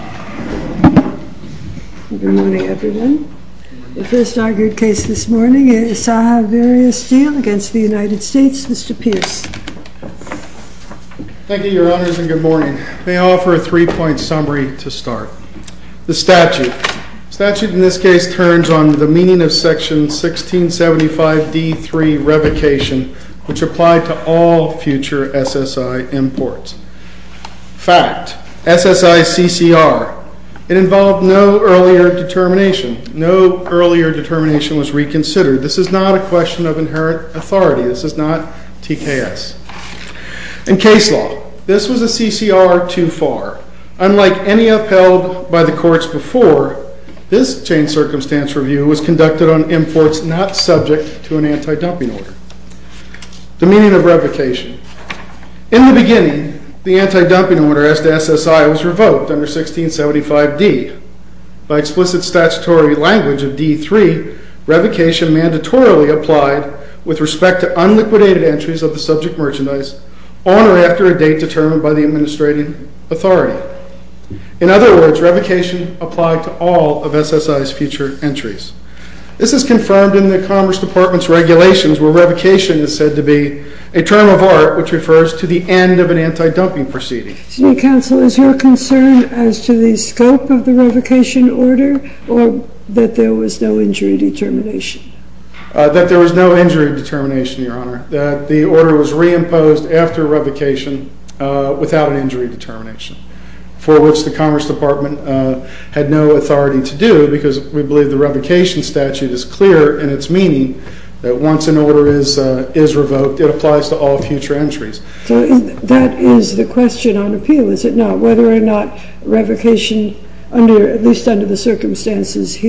Thank you, Your Honors, and good morning. May I offer a three-point summary to start. The statute. The statute in this case turns on the meaning of Section 1675d.3, Revocation, which applied to all future SSI imports. Fact. SSI CCR. It involved no earlier determination. No earlier determination was reconsidered. This is not a question of inherent authority. This is not TKS. In case law, this was a CCR too far. Unlike any upheld by the courts before, this chain circumstance review was conducted on imports not subject to an anti-dumping order. The meaning of revocation. In the beginning, the anti-dumping order as to SSI was revoked under 1675d. By explicit statutory language of d.3, revocation mandatorily applied with respect to unliquidated entries of the subject merchandise on or after a date determined by the administrating authority. In other words, revocation applied to all of SSI's future entries. This is confirmed in the Commerce Department's regulations where revocation is said to be a term of art which refers to the end of an anti-dumping proceeding. Is your concern as to the scope of the revocation order or that there was no injury determination? That there was no injury determination, Your Honor. That the order was reimposed after revocation without an injury determination. For which the Commerce Department had no authority to do because we believe the revocation statute is clear in its meaning that once an order is revoked, it applies to all future entries. So that is the question on appeal, is it not? Whether or not revocation, at least under the position is.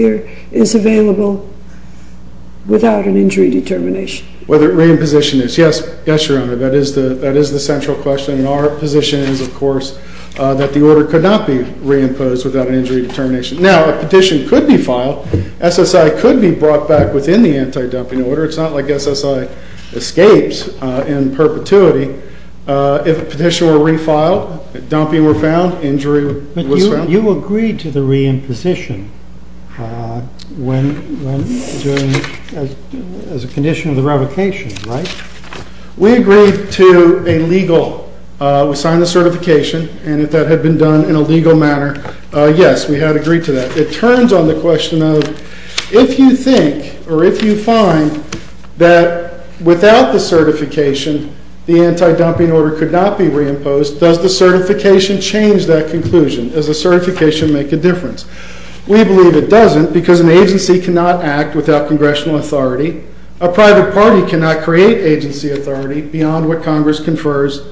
Yes, Your Honor, that is the central question. Our position is, of course, that the order could not be reimposed without an injury determination. Now, a petition could be filed. SSI could be brought back within the anti-dumping order. It's not like SSI escapes in perpetuity. If a petition were refiled, dumping were found, injury was found. But you agreed to the reimposition when, during, as a condition of the revocation, right? We agreed to a legal, we signed the certification and if that had been done in a legal manner, yes, we had agreed to that. It turns on the question of, if you think or if you find that without the certification, the anti-dumping order could not be reimposed, does the certification change that conclusion? Does the certification make a difference? We believe it doesn't because an agency cannot act without congressional authority. A private party cannot create agency authority beyond what Congress confers.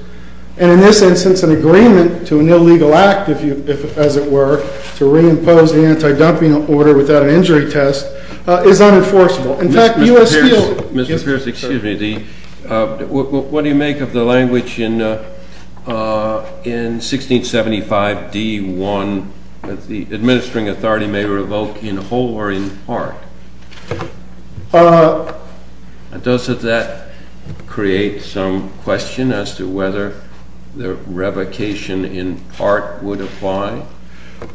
And in this instance, an agreement to an illegal act, as it were, to reimpose the anti-dumping order without an injury test is unenforceable. In fact, the U.S. Steel... Mr. Pierce, excuse me. What do you make of the language in 1675, D1, that the administering authority may revoke in whole or in part? Does that create some question as to whether the revocation in part would apply?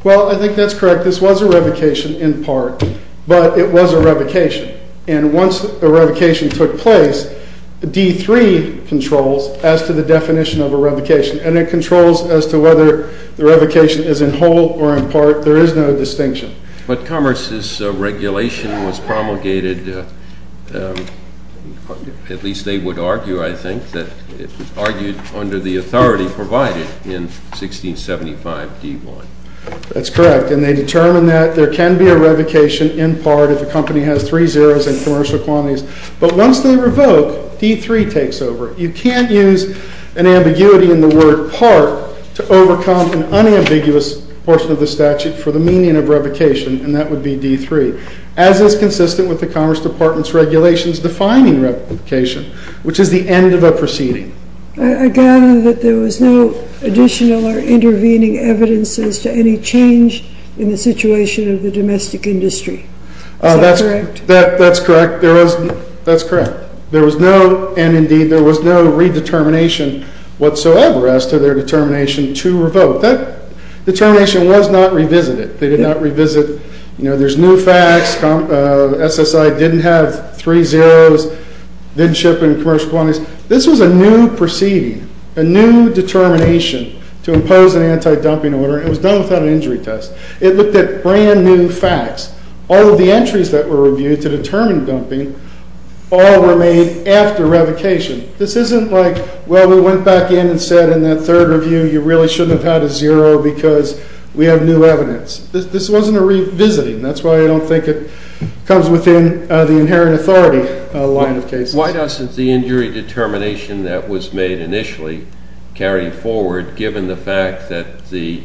Well, I think that's correct. This was a revocation in part, but it was a revocation. And once a revocation took place, D3 controls as to the whether the revocation is in whole or in part. There is no distinction. But Commerce's regulation was promulgated, at least they would argue, I think, that it was argued under the authority provided in 1675, D1. That's correct. And they determined that there can be a revocation in part if a company has three zeros in commercial quantities. But once they revoke, D3 takes over. You can't use an ambiguity in the word part to overcome an unambiguous portion of the statute for the meaning of revocation, and that would be D3. As is consistent with the Commerce Department's regulations defining revocation, which is the end of a proceeding. I gather that there was no additional or intervening evidence as to any change in the situation of the domestic industry. Is that correct? That's correct. There was no, and indeed there was no pre-determination whatsoever as to their determination to revoke. That determination was not revisited. They did not revisit, you know, there's new facts, SSI didn't have three zeros, didn't ship in commercial quantities. This was a new proceeding, a new determination to impose an anti-dumping order. It was done without an injury test. It looked at brand new facts. All of the entries that were reviewed to determine dumping all were made after revocation. This isn't like, well, we went back in and said in that third review, you really shouldn't have had a zero because we have new evidence. This wasn't a revisiting. That's why I don't think it comes within the inherent authority line of cases. Why doesn't the injury determination that was made initially carry forward given the fact that the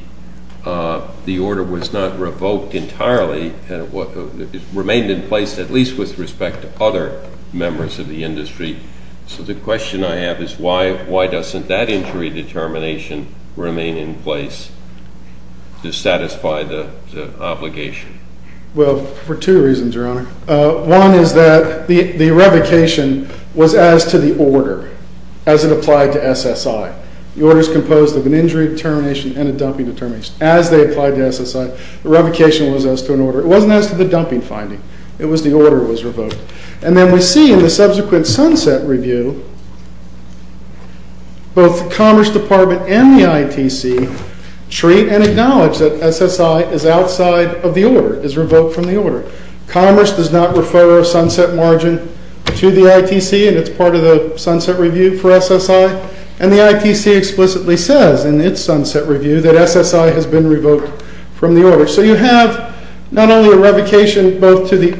order was not revoked entirely, remained in place, at least with respect to other members of the industry? So the question I have is why doesn't that injury determination remain in place to satisfy the obligation? Well, for two reasons, Your Honor. One is that the revocation was as to the order as it applied to SSI. The order is composed of an injury determination and a dumping determination. As they applied to SSI, the revocation was as to an order. It wasn't as to the SSI as the order was revoked. And then we see in the subsequent Sunset Review, both the Commerce Department and the ITC treat and acknowledge that SSI is outside of the order, is revoked from the order. Commerce does not refer a Sunset Margin to the ITC and it's part of the Sunset Review for SSI. And the ITC explicitly says in its So you have not only a revocation both to the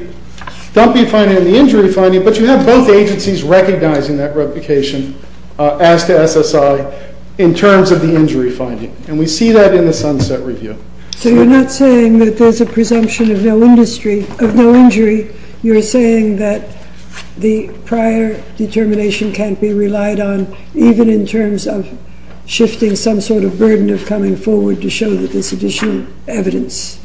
dumping finding and the injury finding, but you have both agencies recognizing that revocation as to SSI in terms of the injury finding. And we see that in the Sunset Review. So you're not saying that there's a presumption of no injury. You're saying that the prior determination can't be additional evidence?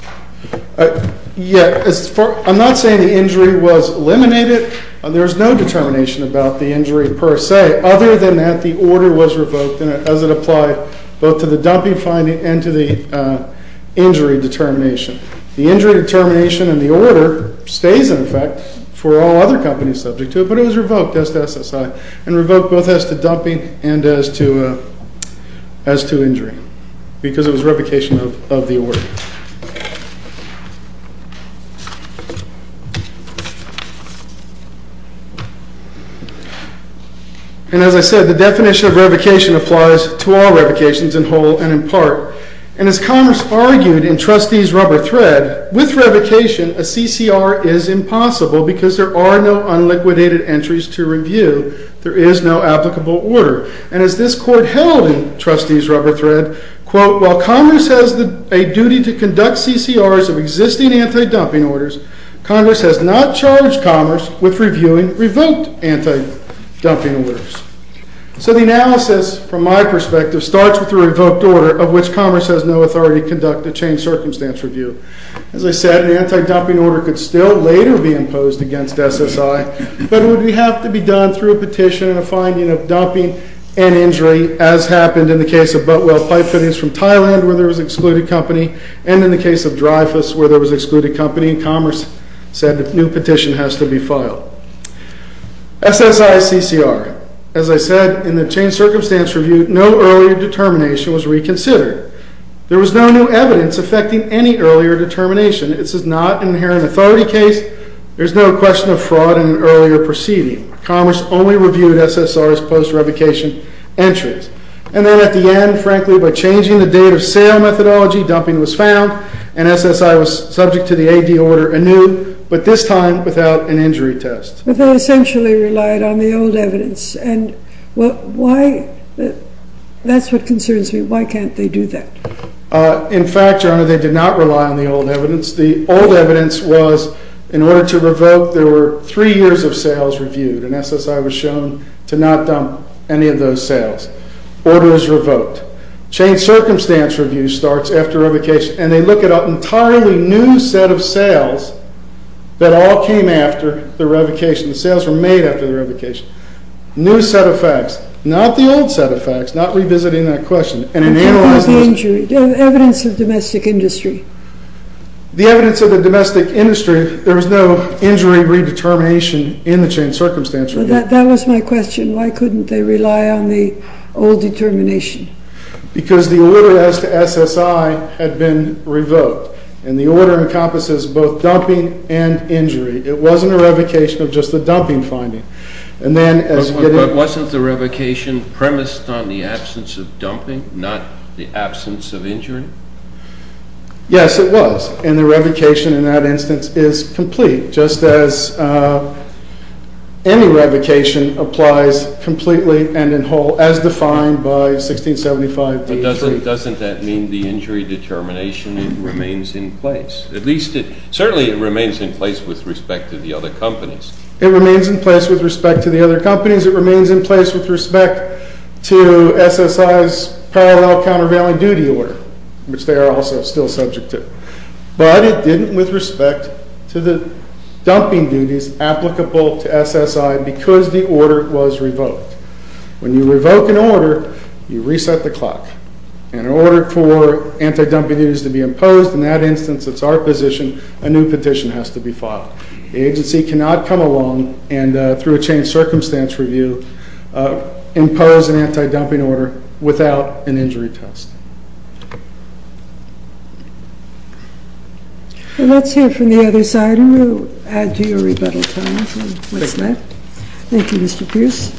I'm not saying the injury was eliminated. There's no determination about the injury per se. Other than that, the order was revoked as it applied both to the dumping finding and to the injury determination. The injury determination and the order stays in effect for all other companies subject to it, but it was revoked as to SSI and revoked both as to dumping and as to injury because it was revocation of the order. And as I said, the definition of revocation applies to all revocations in whole and in part. And as Commerce argued in Trustees' Rubber Thread, with revocation, a CCR is impossible because there are no unliquidated entries to applicable order. And as this Court held in Trustees' Rubber Thread, quote, while Commerce has a duty to conduct CCRs of existing anti-dumping orders, Congress has not charged Commerce with reviewing revoked anti-dumping orders. So the analysis, from my perspective, starts with a revoked order of which Commerce has no authority to conduct a changed circumstance review. As I said, an anti-dumping order could still later be imposed against SSI, but it would be revocation of dumping and injury, as happened in the case of Butwell Pipe Fittings from Thailand, where there was an excluded company, and in the case of Dreyfus, where there was an excluded company, Commerce said a new petition has to be filed. SSI CCR. As I said, in the changed circumstance review, no earlier determination was reconsidered. There was no new evidence affecting any earlier determination. This is not an inherent authority case. There's no question of fraud in an earlier proceeding. Commerce only reviewed SSRs post-revocation entries. And then at the end, frankly, by changing the date of sale methodology, dumping was found, and SSI was subject to the AD order anew, but this time without an injury test. But they essentially relied on the old evidence. And why? That's what concerns me. Why can't they do that? In fact, Your Honor, they did not rely on the old evidence. The old evidence was, in order to revoke, there were three years of sales reviewed, and SSI was shown to not dump any of those sales. Order was revoked. Changed circumstance review starts after revocation, and they look at an entirely new set of sales that all came after the revocation. The sales were made after the revocation. New set of facts, not the old set of facts, not revisiting that question. And in analyzing the evidence of the domestic industry, there was no injury redetermination in the changed circumstance review. That was my question. Why couldn't they rely on the old determination? Because the order as to SSI had been revoked, and the order encompasses both dumping and injury. It wasn't a revocation of just the dumping finding. But wasn't the revocation premised on the absence of dumping, not the absence of injury? Yes, it was. And the revocation in that instance is complete, just as any revocation applies completely and as defined by 1675 D.A. 3. But doesn't that mean the injury determination remains in place? At least, certainly it remains in place with respect to the other companies. It remains in place with respect to the other companies. It remains in place with respect to SSI's parallel countervailing duty order, which they are also still subject to. But it didn't with respect to the dumping duties applicable to SSI because the order was revoked. When you revoke an order, you reset the clock. And in order for anti-dumping duties to be imposed, in that instance, it's our position, a new petition has to be filed. The agency cannot come along and, through a changed circumstance review, impose an anti-dumping order without an injury test. Let's hear from the other side and we'll add to your rebuttal time. Thank you, Mr. Pierce.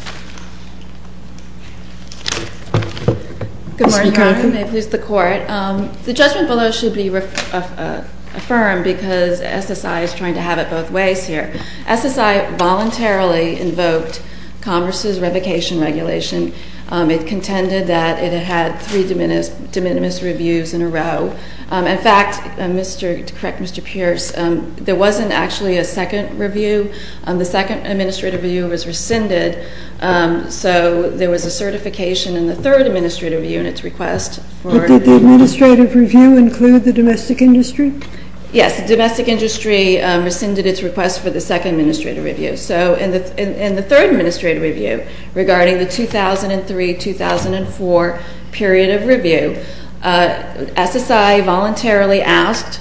Good morning, Your Honor. May it please the Court. The judgment below should be affirmed because SSI is trying to have it both ways here. SSI voluntarily invoked Congress's revocation regulation. It contended that it had three de minimis reviews in a row. In fact, to correct Mr. Pierce, there wasn't actually a second review. The second administrative review was rescinded, so there was a certification in the third administrative review in its request for review. Did the administrative review include the domestic industry? Yes, the domestic industry rescinded its request for the second administrative review. So in the third administrative review regarding the 2003-2004 period of review, SSI voluntarily asked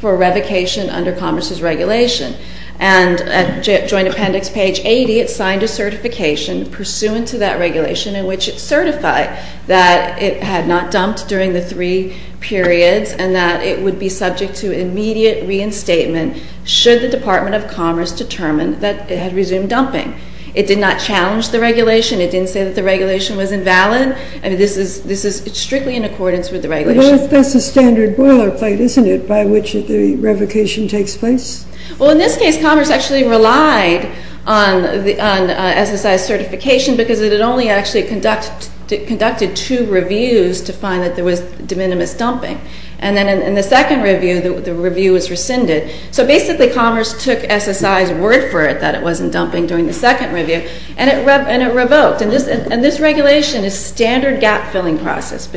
for revocation under Congress's regulation. And at Joint Appendix page 80, it signed a certification pursuant to that regulation in which it certified that it had not dumped during the three periods and that it would be subject to immediate reinstatement should the Department of Commerce determine that it had resumed dumping. It did not challenge the regulation. It didn't say that the regulation was invalid. This is strictly in accordance with the regulation. Well, that's the standard boilerplate, isn't it, by which the revocation takes place? Well, in this case, Commerce actually relied on SSI's certification because it had only actually conducted two reviews to find that there was de minimis dumping. And then in the second review, the review was rescinded. So basically, Commerce took SSI's word for it that it wasn't dumping during the second review, and it revoked. And this regulation is a standard gap-filling procedure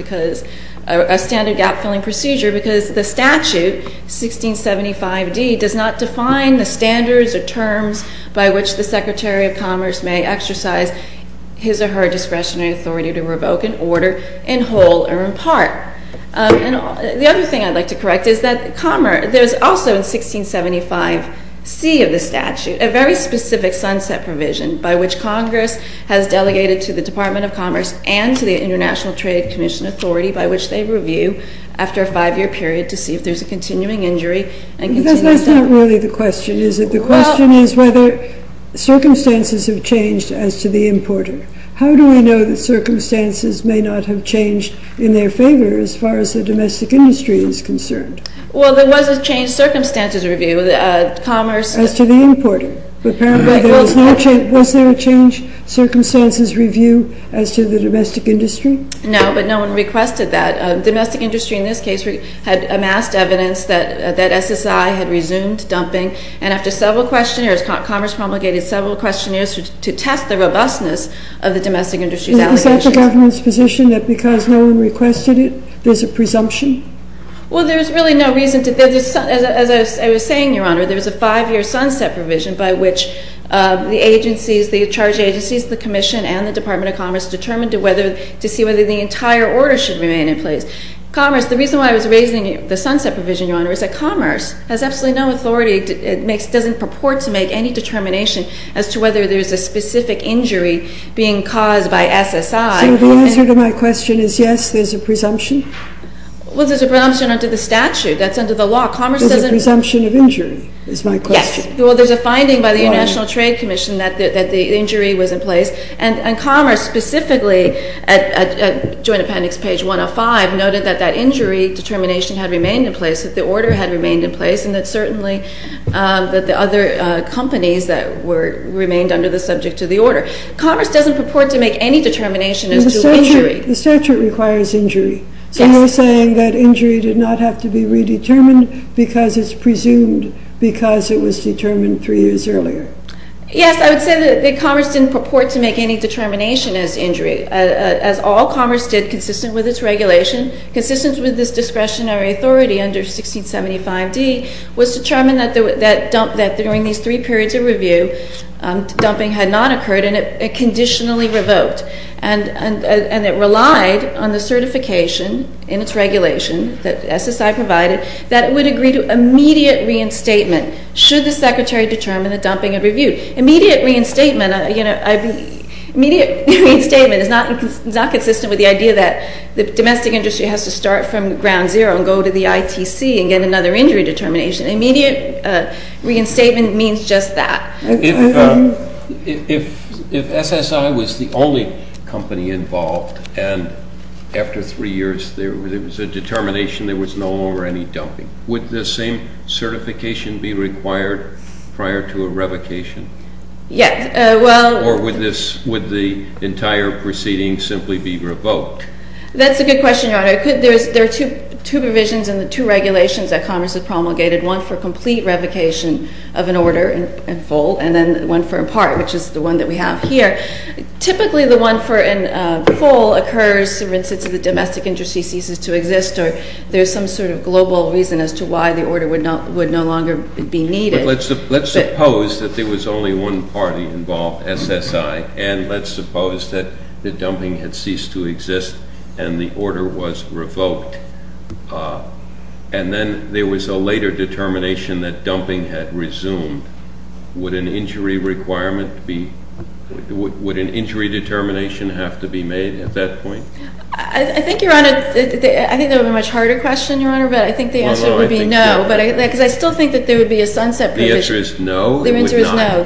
because the statute, 1675d, does not define the standards or terms by which the Secretary of Commerce may exercise his or her discretionary authority to revoke an order in whole or in part. The other thing I'd like to correct is that there's also in 1675c of the statute a very specific sunset provision by which Congress has delegated to the Department of Commerce and to the International Trade Commission Authority by which they review after a five-year period to see if there's a continuing injury. But that's not really the question, is it? The question is whether circumstances have changed as to the importer. How do we know that circumstances may not have changed in their favor as far as the domestic industry is concerned? Well, there was a changed circumstances review. Commerce... As to the importer. But apparently there was no change. Was there a changed circumstances review as to the domestic industry? No, but no one requested that. Domestic industry, in this case, had amassed evidence that SSI had resumed dumping. And after several questionnaires, Commerce promulgated several questionnaires to test the robustness of the domestic industry's allegations. Is that the government's position that because no one requested it, there's a presumption? Well, there's really no reason to... As I was saying, Your Honor, there was a five-year sunset provision by which the agencies, the charge agencies, the Commission and the Department of Commerce determined to see whether the entire order should remain in place. Commerce, the reason why I was raising the sunset provision, Your Honor, is that Commerce has absolutely no authority. It doesn't purport to make any determination as to whether there's a specific injury being caused by SSI. So the answer to my question is yes, there's a presumption? Well, there's a presumption under the statute. That's under the law. Commerce doesn't... There's a presumption of injury, is my question. Yes. Well, there's a finding by the International Trade Commission that the injury was in place. And Commerce specifically, at Joint Appendix page 105, noted that that injury determination had remained in place, that the order had remained in place, and that certainly that the other companies that remained under the subject to the order. Commerce doesn't purport to make any determination as to injury. The statute requires injury. Yes. So you're saying that injury did not have to be redetermined because it's presumed because it was determined three years earlier? Yes. I would say that Commerce didn't purport to make any determination as to injury. As all Commerce did, consistent with its regulation, consistent with this discretionary authority under 1675d, was to determine that during these three periods of review, dumping had not occurred and it conditionally revoked. And it relied on the certification in its regulation that SSI provided that it would agree to immediate reinstatement should the Secretary determine that dumping had reviewed. Immediate reinstatement is not consistent with the idea that the domestic industry has to start from ground zero and go to the ITC and get another injury determination. Immediate reinstatement means just that. If SSI was the only company involved and after three years there was a determination there was no longer any dumping, would the same certification be required prior to a revocation? Yes. Or would the entire proceeding simply be revoked? That's a good question, Your Honor. There are two provisions in the two regulations that Commerce has promulgated, one for complete revocation of an order in full and then one for in part, which is the one that we have here. Typically the one for in full occurs, for instance, if the domestic industry ceases to exist or there's some sort of global reason as to why the order would no longer be needed. But let's suppose that there was only one party involved, SSI, and let's suppose that the dumping had ceased to exist and the order was revoked and then there was a later determination that dumping had resumed. Would an injury requirement be – would an injury determination have to be made at that point? I think, Your Honor, I think that would be a much harder question, Your Honor, but I think the answer would be no because I still think that there would be a sunset provision. The answer is no? The answer is no,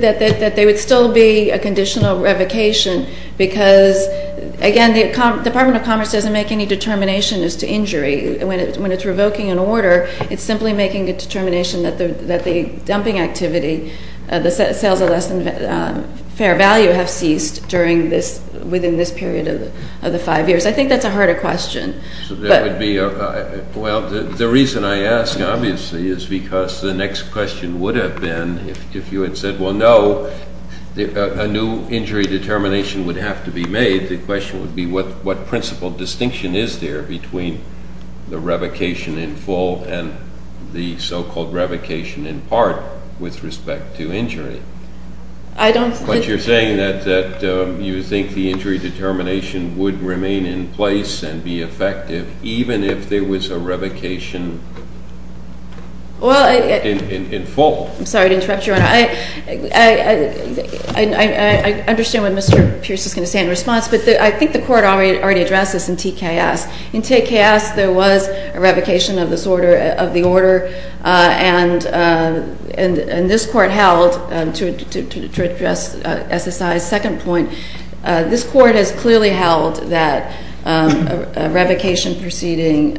that there would still be a conditional revocation because, again, the Department of Commerce doesn't make any determination as to injury. When it's revoking an order, it's simply making a determination that the dumping activity, the sales of less than fair value have ceased during this – within this period of the five years. I think that's a harder question. So that would be – well, the reason I ask, obviously, is because the next question would have been if you had said, well, no, a new injury determination would have to be made, the question would be what principle distinction is there between the revocation in full and the so-called revocation in part with respect to injury? I don't – But you're saying that you think the injury determination would remain in place and be effective even if there was a revocation in full. I'm sorry to interrupt you, Your Honor. I understand what Mr. Pierce is going to say in response, but I think the Court already addressed this in TKS. In TKS, there was a revocation of this order – of the order, and this Court held – to address SSI's second point, this Court has clearly held that a revocation proceeding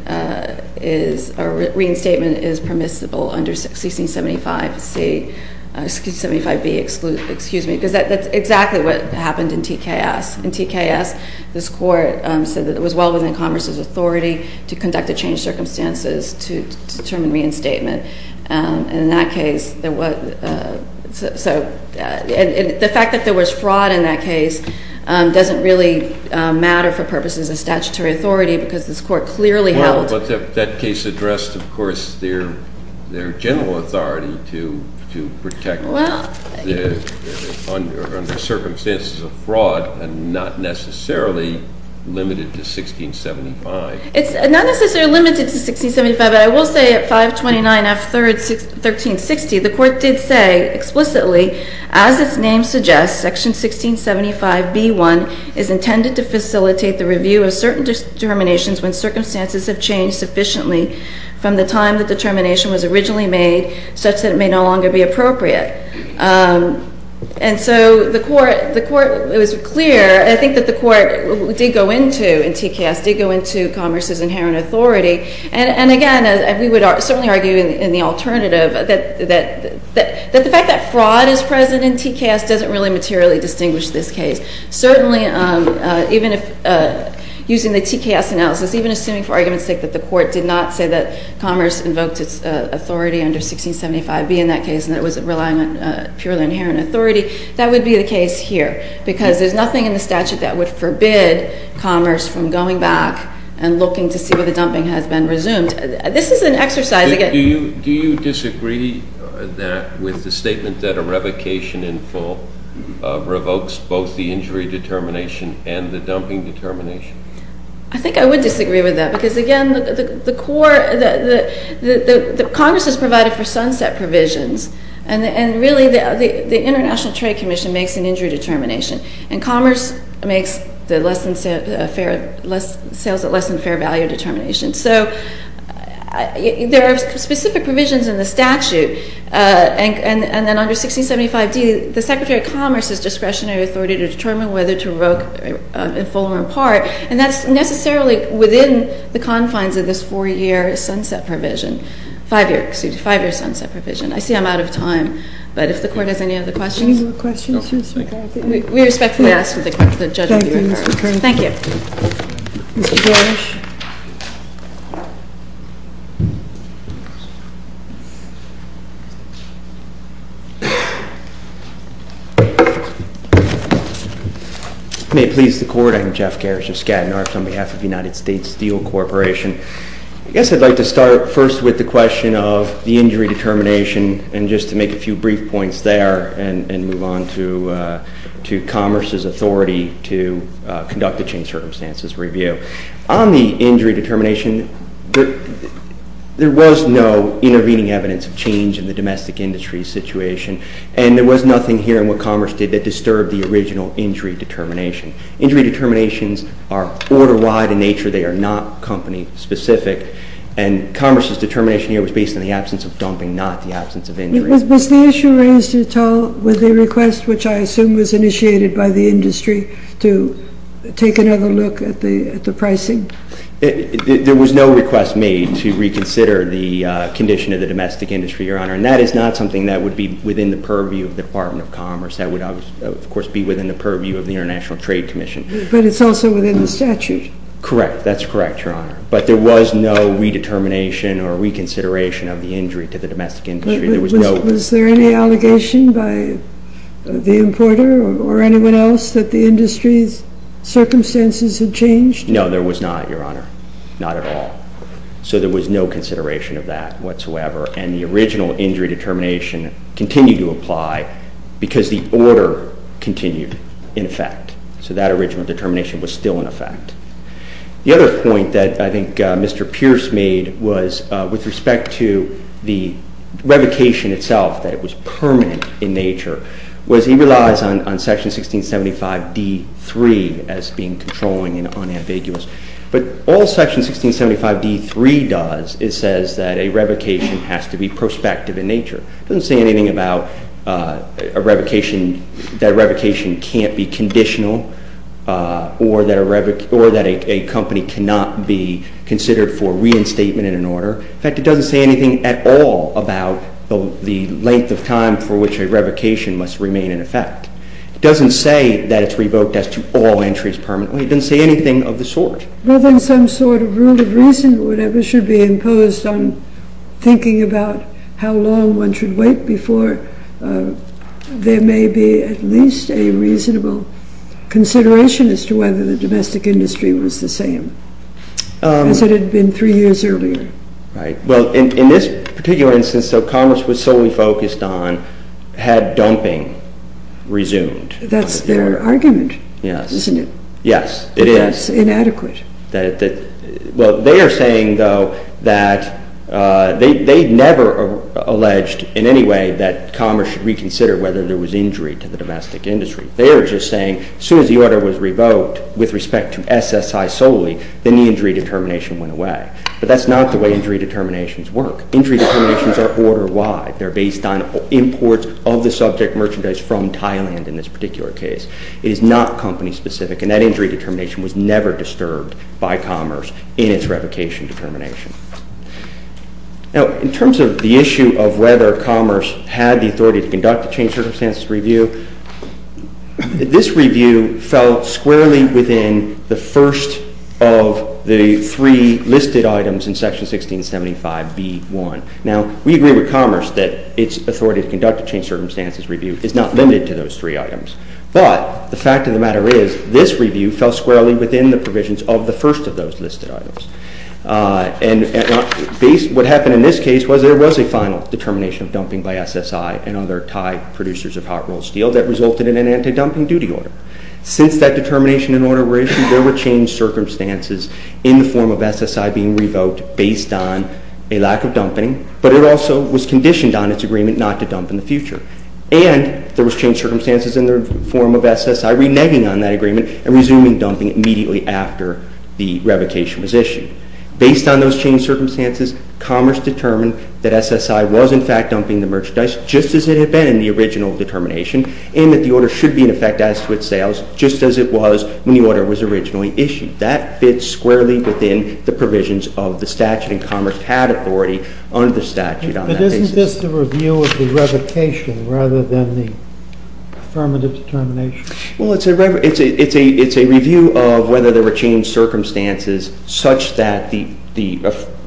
is – or reinstatement is permissible under 1675C – excuse me, 75B, excuse me, because that's exactly what happened in TKS. In TKS, this Court said that it was well within Congress's authority to conduct a changed circumstances to determine reinstatement. And in that case, there was – so the fact that there was fraud in that case doesn't really matter for purposes of statutory authority because this Court clearly held – Well, but that case addressed, of course, their general authority to protect – Well – under circumstances of fraud and not necessarily limited to 1675. It's not necessarily limited to 1675, but I will say at 529 F. 3rd. 1360, the Court did say explicitly, as its name suggests, Section 1675B1 is intended to facilitate the review of certain determinations when circumstances have changed sufficiently from the time the determination was originally made such that it may no longer be appropriate. And so the Court was clear. I think that the Court did go into, in TKS, did go into Commerce's inherent authority. And again, we would certainly argue in the alternative that the fact that fraud is present in TKS doesn't really materially distinguish this case. Certainly, even if – using the TKS analysis, even assuming for argument's sake that the Court did not say that Commerce invoked its authority under 1675B in that case and that it was relying on purely inherent authority, that would be the case here because there's nothing in the statute that would forbid Commerce from going back and looking to see whether dumping has been resumed. This is an exercise – Do you disagree that – with the statement that a revocation in full revokes both the injury determination and the dumping determination? I think I would disagree with that because, again, the Court – Congress has provided for sunset provisions, and really the International Trade Commission makes an injury determination, and Commerce makes the sales at less than fair value determination. So there are specific provisions in the statute, and then under 1675D, the Secretary of Commerce has discretionary authority to determine whether to revoke in full or in part, and that's necessarily within the confines of this four-year sunset provision – five-year, excuse me, five-year sunset provision. I see I'm out of time, but if the Court has any other questions. Any more questions, Mr. McCarthy? No. We respectfully ask for the judgment of the Court. Thank you, Mr. McCarthy. Thank you. Mr. Garish. May it please the Court, I'm Jeff Garish of Skadden Arts on behalf of the United States Steel Corporation. I guess I'd like to start first with the question of the injury determination and just to make a few brief points there and move on to Commerce's authority to conduct the change circumstances review. On the injury determination, there was no intervening evidence of change in the domestic industry situation, and there was nothing here in what Commerce did that disturbed the original injury determination. Injury determinations are order-wide in nature. They are not company-specific, and Commerce's determination here was based on the absence of dumping, not the absence of injury. Was the issue raised at all with the request, which I assume was initiated by the industry, to take another look at the pricing? There was no request made to reconsider the condition of the domestic industry, Your Honor, and that is not something that would be within the purview of the Department of Commerce. That would, of course, be within the purview of the International Trade Commission. But it's also within the statute. Correct. That's correct, Your Honor. But there was no redetermination or reconsideration of the injury to the domestic industry. Was there any allegation by the importer or anyone else that the industry's circumstances had changed? No, there was not, Your Honor, not at all. So there was no consideration of that whatsoever, and the original injury determination continued to apply because the order continued in effect. So that original determination was still in effect. The other point that I think Mr. Pierce made was with respect to the revocation itself, that it was permanent in nature, was he relies on Section 1675 D.3 as being controlling and unambiguous. But all Section 1675 D.3 does, it says that a revocation has to be prospective in nature. It doesn't say anything about that revocation can't be conditional or that a company cannot be considered for reinstatement in an order. In fact, it doesn't say anything at all about the length of time for which a revocation must remain in effect. It doesn't say that it's revoked as to all entries permanently. It doesn't say anything of the sort. Well, then some sort of rule of reason or whatever should be imposed on thinking about how long one should wait before there may be at least a reasonable consideration as to whether the domestic industry was the same as it had been three years earlier. Right. Well, in this particular instance, though, Congress was solely focused on had dumping resumed. That's their argument, isn't it? Yes, it is. That's inadequate. Well, they are saying, though, that they never alleged in any way that Congress should reconsider whether there was injury to the domestic industry. They are just saying as soon as the order was revoked with respect to SSI solely, then the injury determination went away. But that's not the way injury determinations work. Injury determinations are order-wide. They're based on imports of the subject merchandise from Thailand in this particular case. It is not company-specific, and that injury determination was never disturbed by Commerce in its revocation determination. Now, in terms of the issue of whether Commerce had the authority to conduct a changed circumstances review, this review fell squarely within the first of the three listed items in Section 1675B1. Now, we agree with Commerce that its authority to conduct a changed circumstances review is not limited to those three items. But the fact of the matter is this review fell squarely within the provisions of the first of those listed items. And what happened in this case was there was a final determination of dumping by SSI and other Thai producers of hot rolled steel that resulted in an anti-dumping duty order. Since that determination and order were issued, there were changed circumstances in the form of SSI being revoked based on a lack of dumping, but it also was conditioned on its agreement not to dump in the future. And there was changed circumstances in the form of SSI reneging on that agreement and resuming dumping immediately after the revocation was issued. Based on those changed circumstances, Commerce determined that SSI was in fact dumping the merchandise just as it had been in the original determination, and that the order should be in effect as to its sales just as it was when the order was originally issued. That fits squarely within the provisions of the statute, and Commerce had authority under the statute on that basis. Is this the review of the revocation rather than the affirmative determination? Well, it's a review of whether there were changed circumstances such that the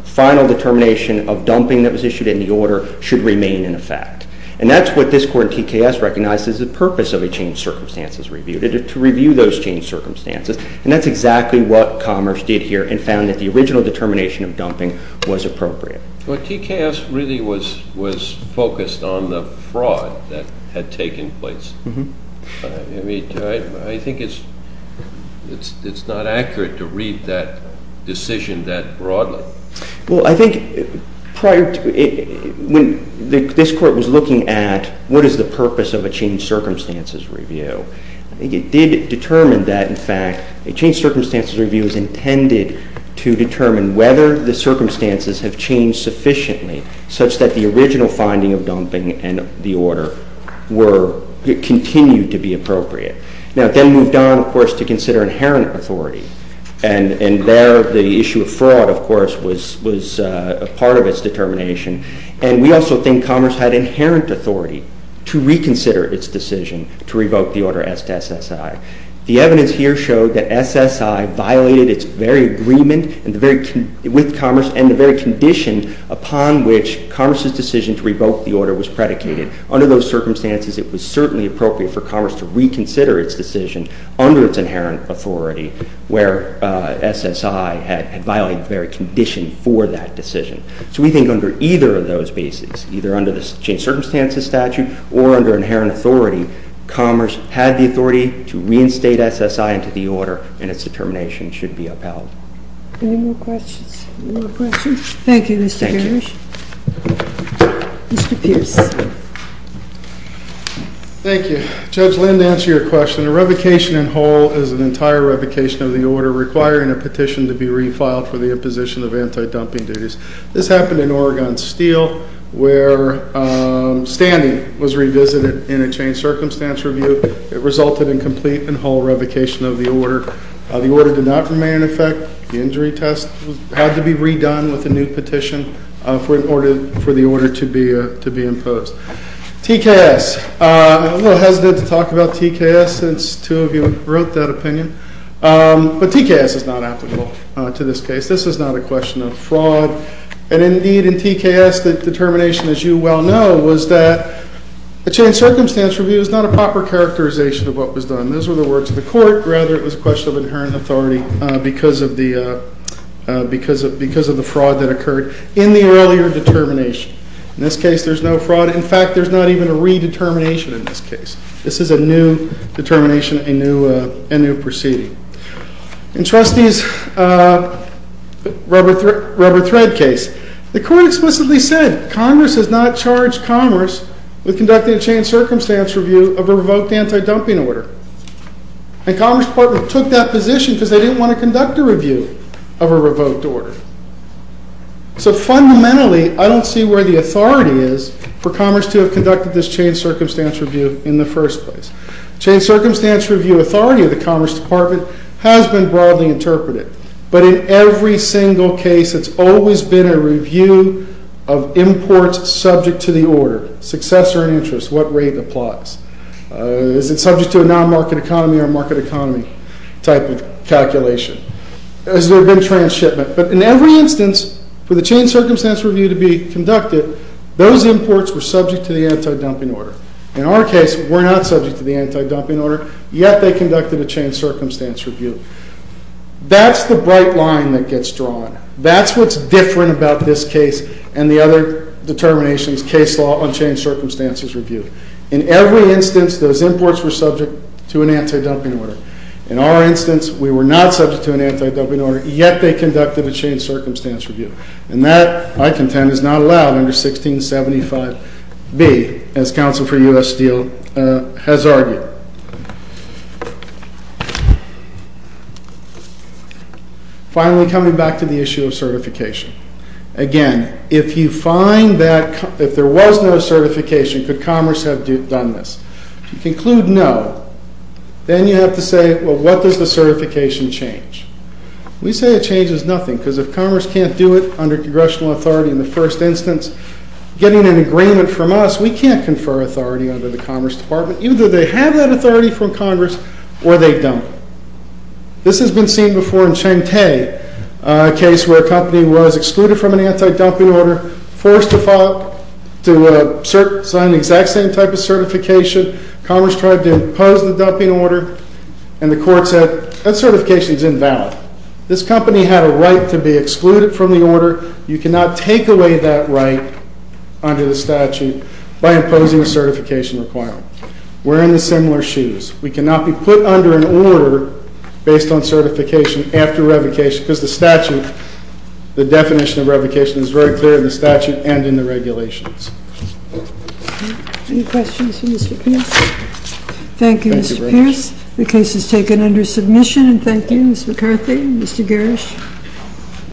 final determination of dumping that was issued in the order should remain in effect. And that's what this Court in TKS recognizes the purpose of a changed circumstances review, to review those changed circumstances, and that's exactly what Commerce did here and found that the original determination of dumping was appropriate. Well, TKS really was focused on the fraud that had taken place. I mean, I think it's not accurate to read that decision that broadly. Well, I think prior to it, when this Court was looking at what is the purpose of a changed circumstances review, I think it did determine that, in fact, a changed circumstances review is intended to determine whether the circumstances have changed sufficiently such that the original finding of dumping in the order continued to be appropriate. Now, it then moved on, of course, to consider inherent authority, and there the issue of fraud, of course, was a part of its determination, and we also think Commerce had inherent authority to reconsider its decision to revoke the order as to SSI. The evidence here showed that SSI violated its very agreement with Commerce and the very condition upon which Commerce's decision to revoke the order was predicated. Under those circumstances, it was certainly appropriate for Commerce to reconsider its decision under its inherent authority, where SSI had violated the very condition for that decision. So we think under either of those bases, either under the changed circumstances statute or under inherent authority, Commerce had the authority to reinstate SSI into the order, and its determination should be upheld. Any more questions? Thank you, Mr. Pierce. Mr. Pierce. Thank you. Judge Lind, to answer your question, a revocation in whole is an entire revocation of the order requiring a petition to be refiled for the imposition of anti-dumping duties. This happened in Oregon Steel, where standing was revisited in a changed circumstance review. It resulted in complete and whole revocation of the order. The order did not remain in effect. The injury test had to be redone with a new petition for the order to be imposed. TKS. I'm a little hesitant to talk about TKS since two of you wrote that opinion, but TKS is not applicable to this case. This is not a question of fraud. And indeed, in TKS, the determination, as you well know, was that a changed circumstance review is not a proper characterization of what was done. Those were the words of the court. Rather, it was a question of inherent authority because of the fraud that occurred in the earlier determination. In this case, there's no fraud. In fact, there's not even a redetermination in this case. This is a new determination, a new proceeding. In Trustee's rubber-thread case, the court explicitly said, Congress has not charged Commerce with conducting a changed circumstance review of a revoked anti-dumping order. And Commerce Department took that position because they didn't want to conduct a review of a revoked order. So fundamentally, I don't see where the authority is for Commerce to have conducted this changed circumstance review in the first place. Changed circumstance review authority of the Commerce Department has been broadly interpreted. But in every single case, it's always been a review of imports subject to the order, successor and interest, what rate applies. Is it subject to a non-market economy or market economy type of calculation? Has there been trans-shipment? But in every instance, for the changed circumstance review to be conducted, those imports were subject to the anti-dumping order. In our case, we're not subject to the anti-dumping order, yet they conducted a changed circumstance review. That's the bright line that gets drawn. That's what's different about this case and the other determinations, case law, unchanged circumstances review. In every instance, those imports were subject to an anti-dumping order. In our instance, we were not subject to an anti-dumping order, yet they conducted a changed circumstance review. And that, I contend, is not allowed under 1675B, as Council for U.S. Steel has argued. Finally, coming back to the issue of certification. Again, if you find that if there was no certification, could Commerce have done this? If you conclude no, then you have to say, well, what does the certification change? We say it changes nothing, because if Commerce can't do it under congressional authority in the first instance, getting an agreement from us, we can't confer authority under the Commerce Department. Either they have that authority from Congress, or they dump it. This has been seen before in Cheng Teh, a case where a company was excluded from an anti-dumping order, Commerce tried to impose the dumping order, and the court said, that certification is invalid. This company had a right to be excluded from the order. You cannot take away that right under the statute by imposing a certification requirement. We're in the similar shoes. We cannot be put under an order based on certification after revocation, because the statute, the definition of revocation is very clear in the statute and in the regulations. Any questions for Mr. Pierce? Thank you, Mr. Pierce. The case is taken under submission. Thank you, Ms. McCarthy and Mr. Garish.